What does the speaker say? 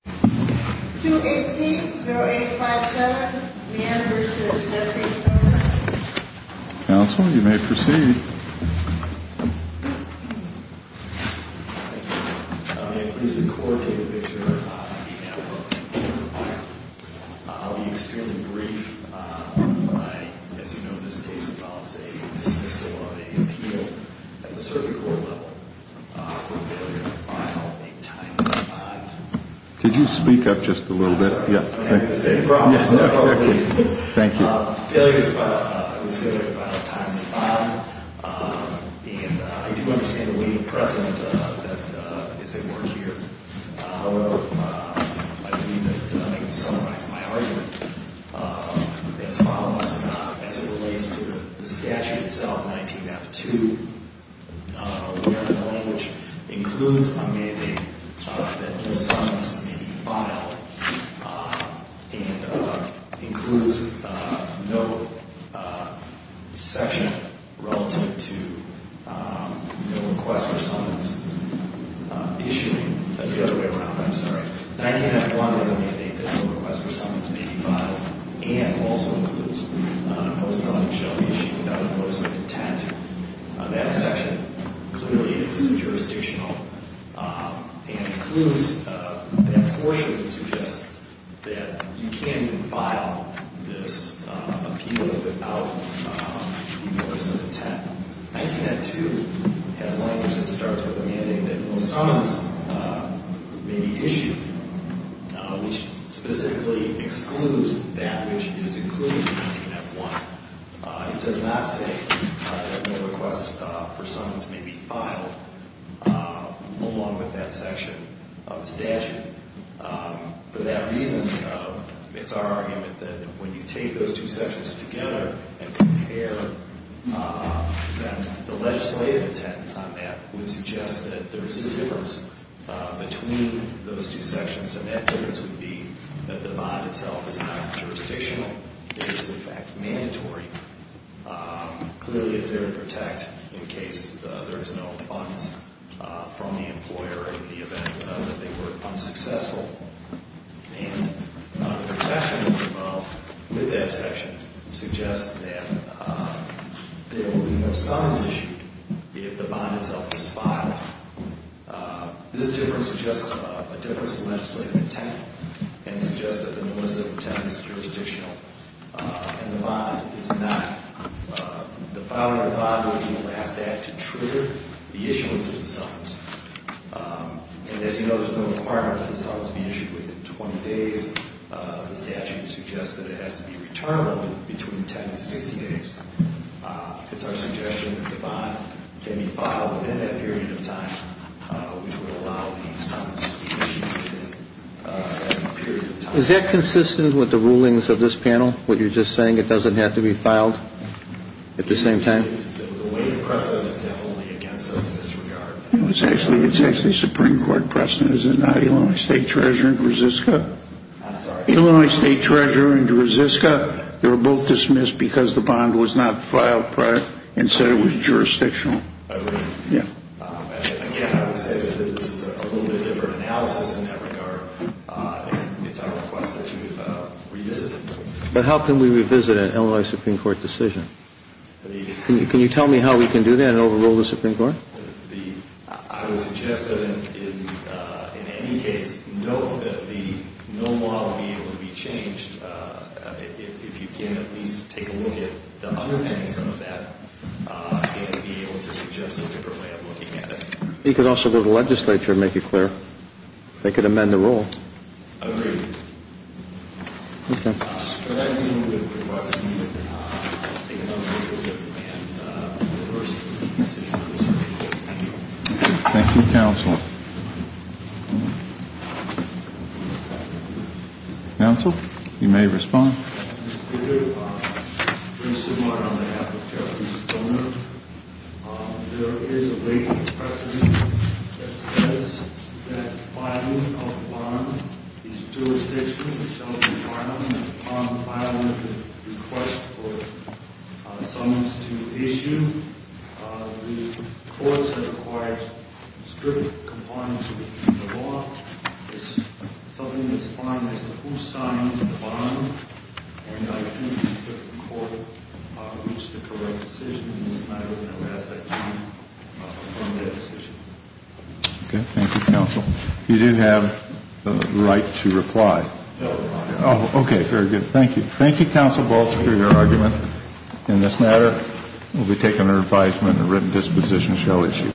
218-0857, Meijer v. The Workers' Compensation Commission Counsel, you may proceed. Thank you, Your Honor. May it please the Court that Victor E. Meijer be acquitted of violence. I'll be extremely brief. As you know, this case involves a dismissal of an appeal at the circuit court level for failure to file a timely bond. Could you speak up just a little bit? Yes, thank you. Failure to file a timely bond, and I do understand the leading precedent that is at work here. However, I believe that I can summarize my argument as follows. As it relates to the statute itself, 19F2, we have a law which includes a mandate that no summons may be filed, and includes no section relative to no request for summons issuing. That's the other way around, I'm sorry. 19F1 is a mandate that no request for summons may be filed, and also includes no summons shall be issued without the notice of intent. That section clearly is jurisdictional, and includes that portion that suggests that you can't even file this appeal without the notice of intent. 19F2 has language that starts with a mandate that no summons may be issued, which specifically excludes that which is included in 19F1. It does not say that no request for summons may be filed along with that section of the statute. For that reason, it's our argument that when you take those two sections together and compare them, the legislative intent on that would suggest that there is a difference between those two sections, and that difference would be that the bond itself is not jurisdictional. Clearly it's there to protect in case there is no funds from the employer in the event that they were unsuccessful. And the protections involved with that section suggest that there will be no summons issued if the bond itself is filed. This difference suggests a difference in legislative intent, and suggests that the notice of intent is jurisdictional, and the bond is not. The filing of the bond would be the last act to trigger the issuance of the summons. And as you know, there's no requirement that the summons be issued within 20 days. The statute suggests that it has to be returnable in between 10 and 60 days. It's our suggestion that the bond can be filed within that period of time, which would allow the summons to be issued within that period of time. Is that consistent with the rulings of this panel, what you're just saying? It doesn't have to be filed at the same time? The way you press it, it's definitely against us in this regard. It's actually Supreme Court precedent, is it not? Illinois State Treasurer in Dresiska. I'm sorry? Illinois State Treasurer in Dresiska. They were both dismissed because the bond was not filed prior and said it was jurisdictional. Oh, really? Yeah. Again, I would say that this is a little bit different analysis in that regard. It's our request that you revisit it. But how can we revisit an Illinois Supreme Court decision? Can you tell me how we can do that and overrule the Supreme Court? I would suggest that in any case, note that the mill model would be able to be changed if you can at least take a look at the underpinnings of that and be able to suggest a different way of looking at it. You could also go to the legislature and make it clear. They could amend the rule. Agreed. Thank you, counsel. Counsel, you may respond. Thank you, Mr. Speaker. Prince Sumar on behalf of Jeffrey Sumar. There is a late precedent that says that filing of a bond is jurisdictional. It shall be filed and upon filing of the request for summons to issue. The courts have required strict compliance with the law. It's something that's fine as to who signs the bond. And I think the Supreme Court reached the correct decision. It's not really going to last that long from that decision. Okay. Thank you, counsel. You do have the right to reply. Oh, okay. Very good. Thank you. Thank you, counsel, for your argument in this matter. It will be taken under advisement and a written disposition shall issue.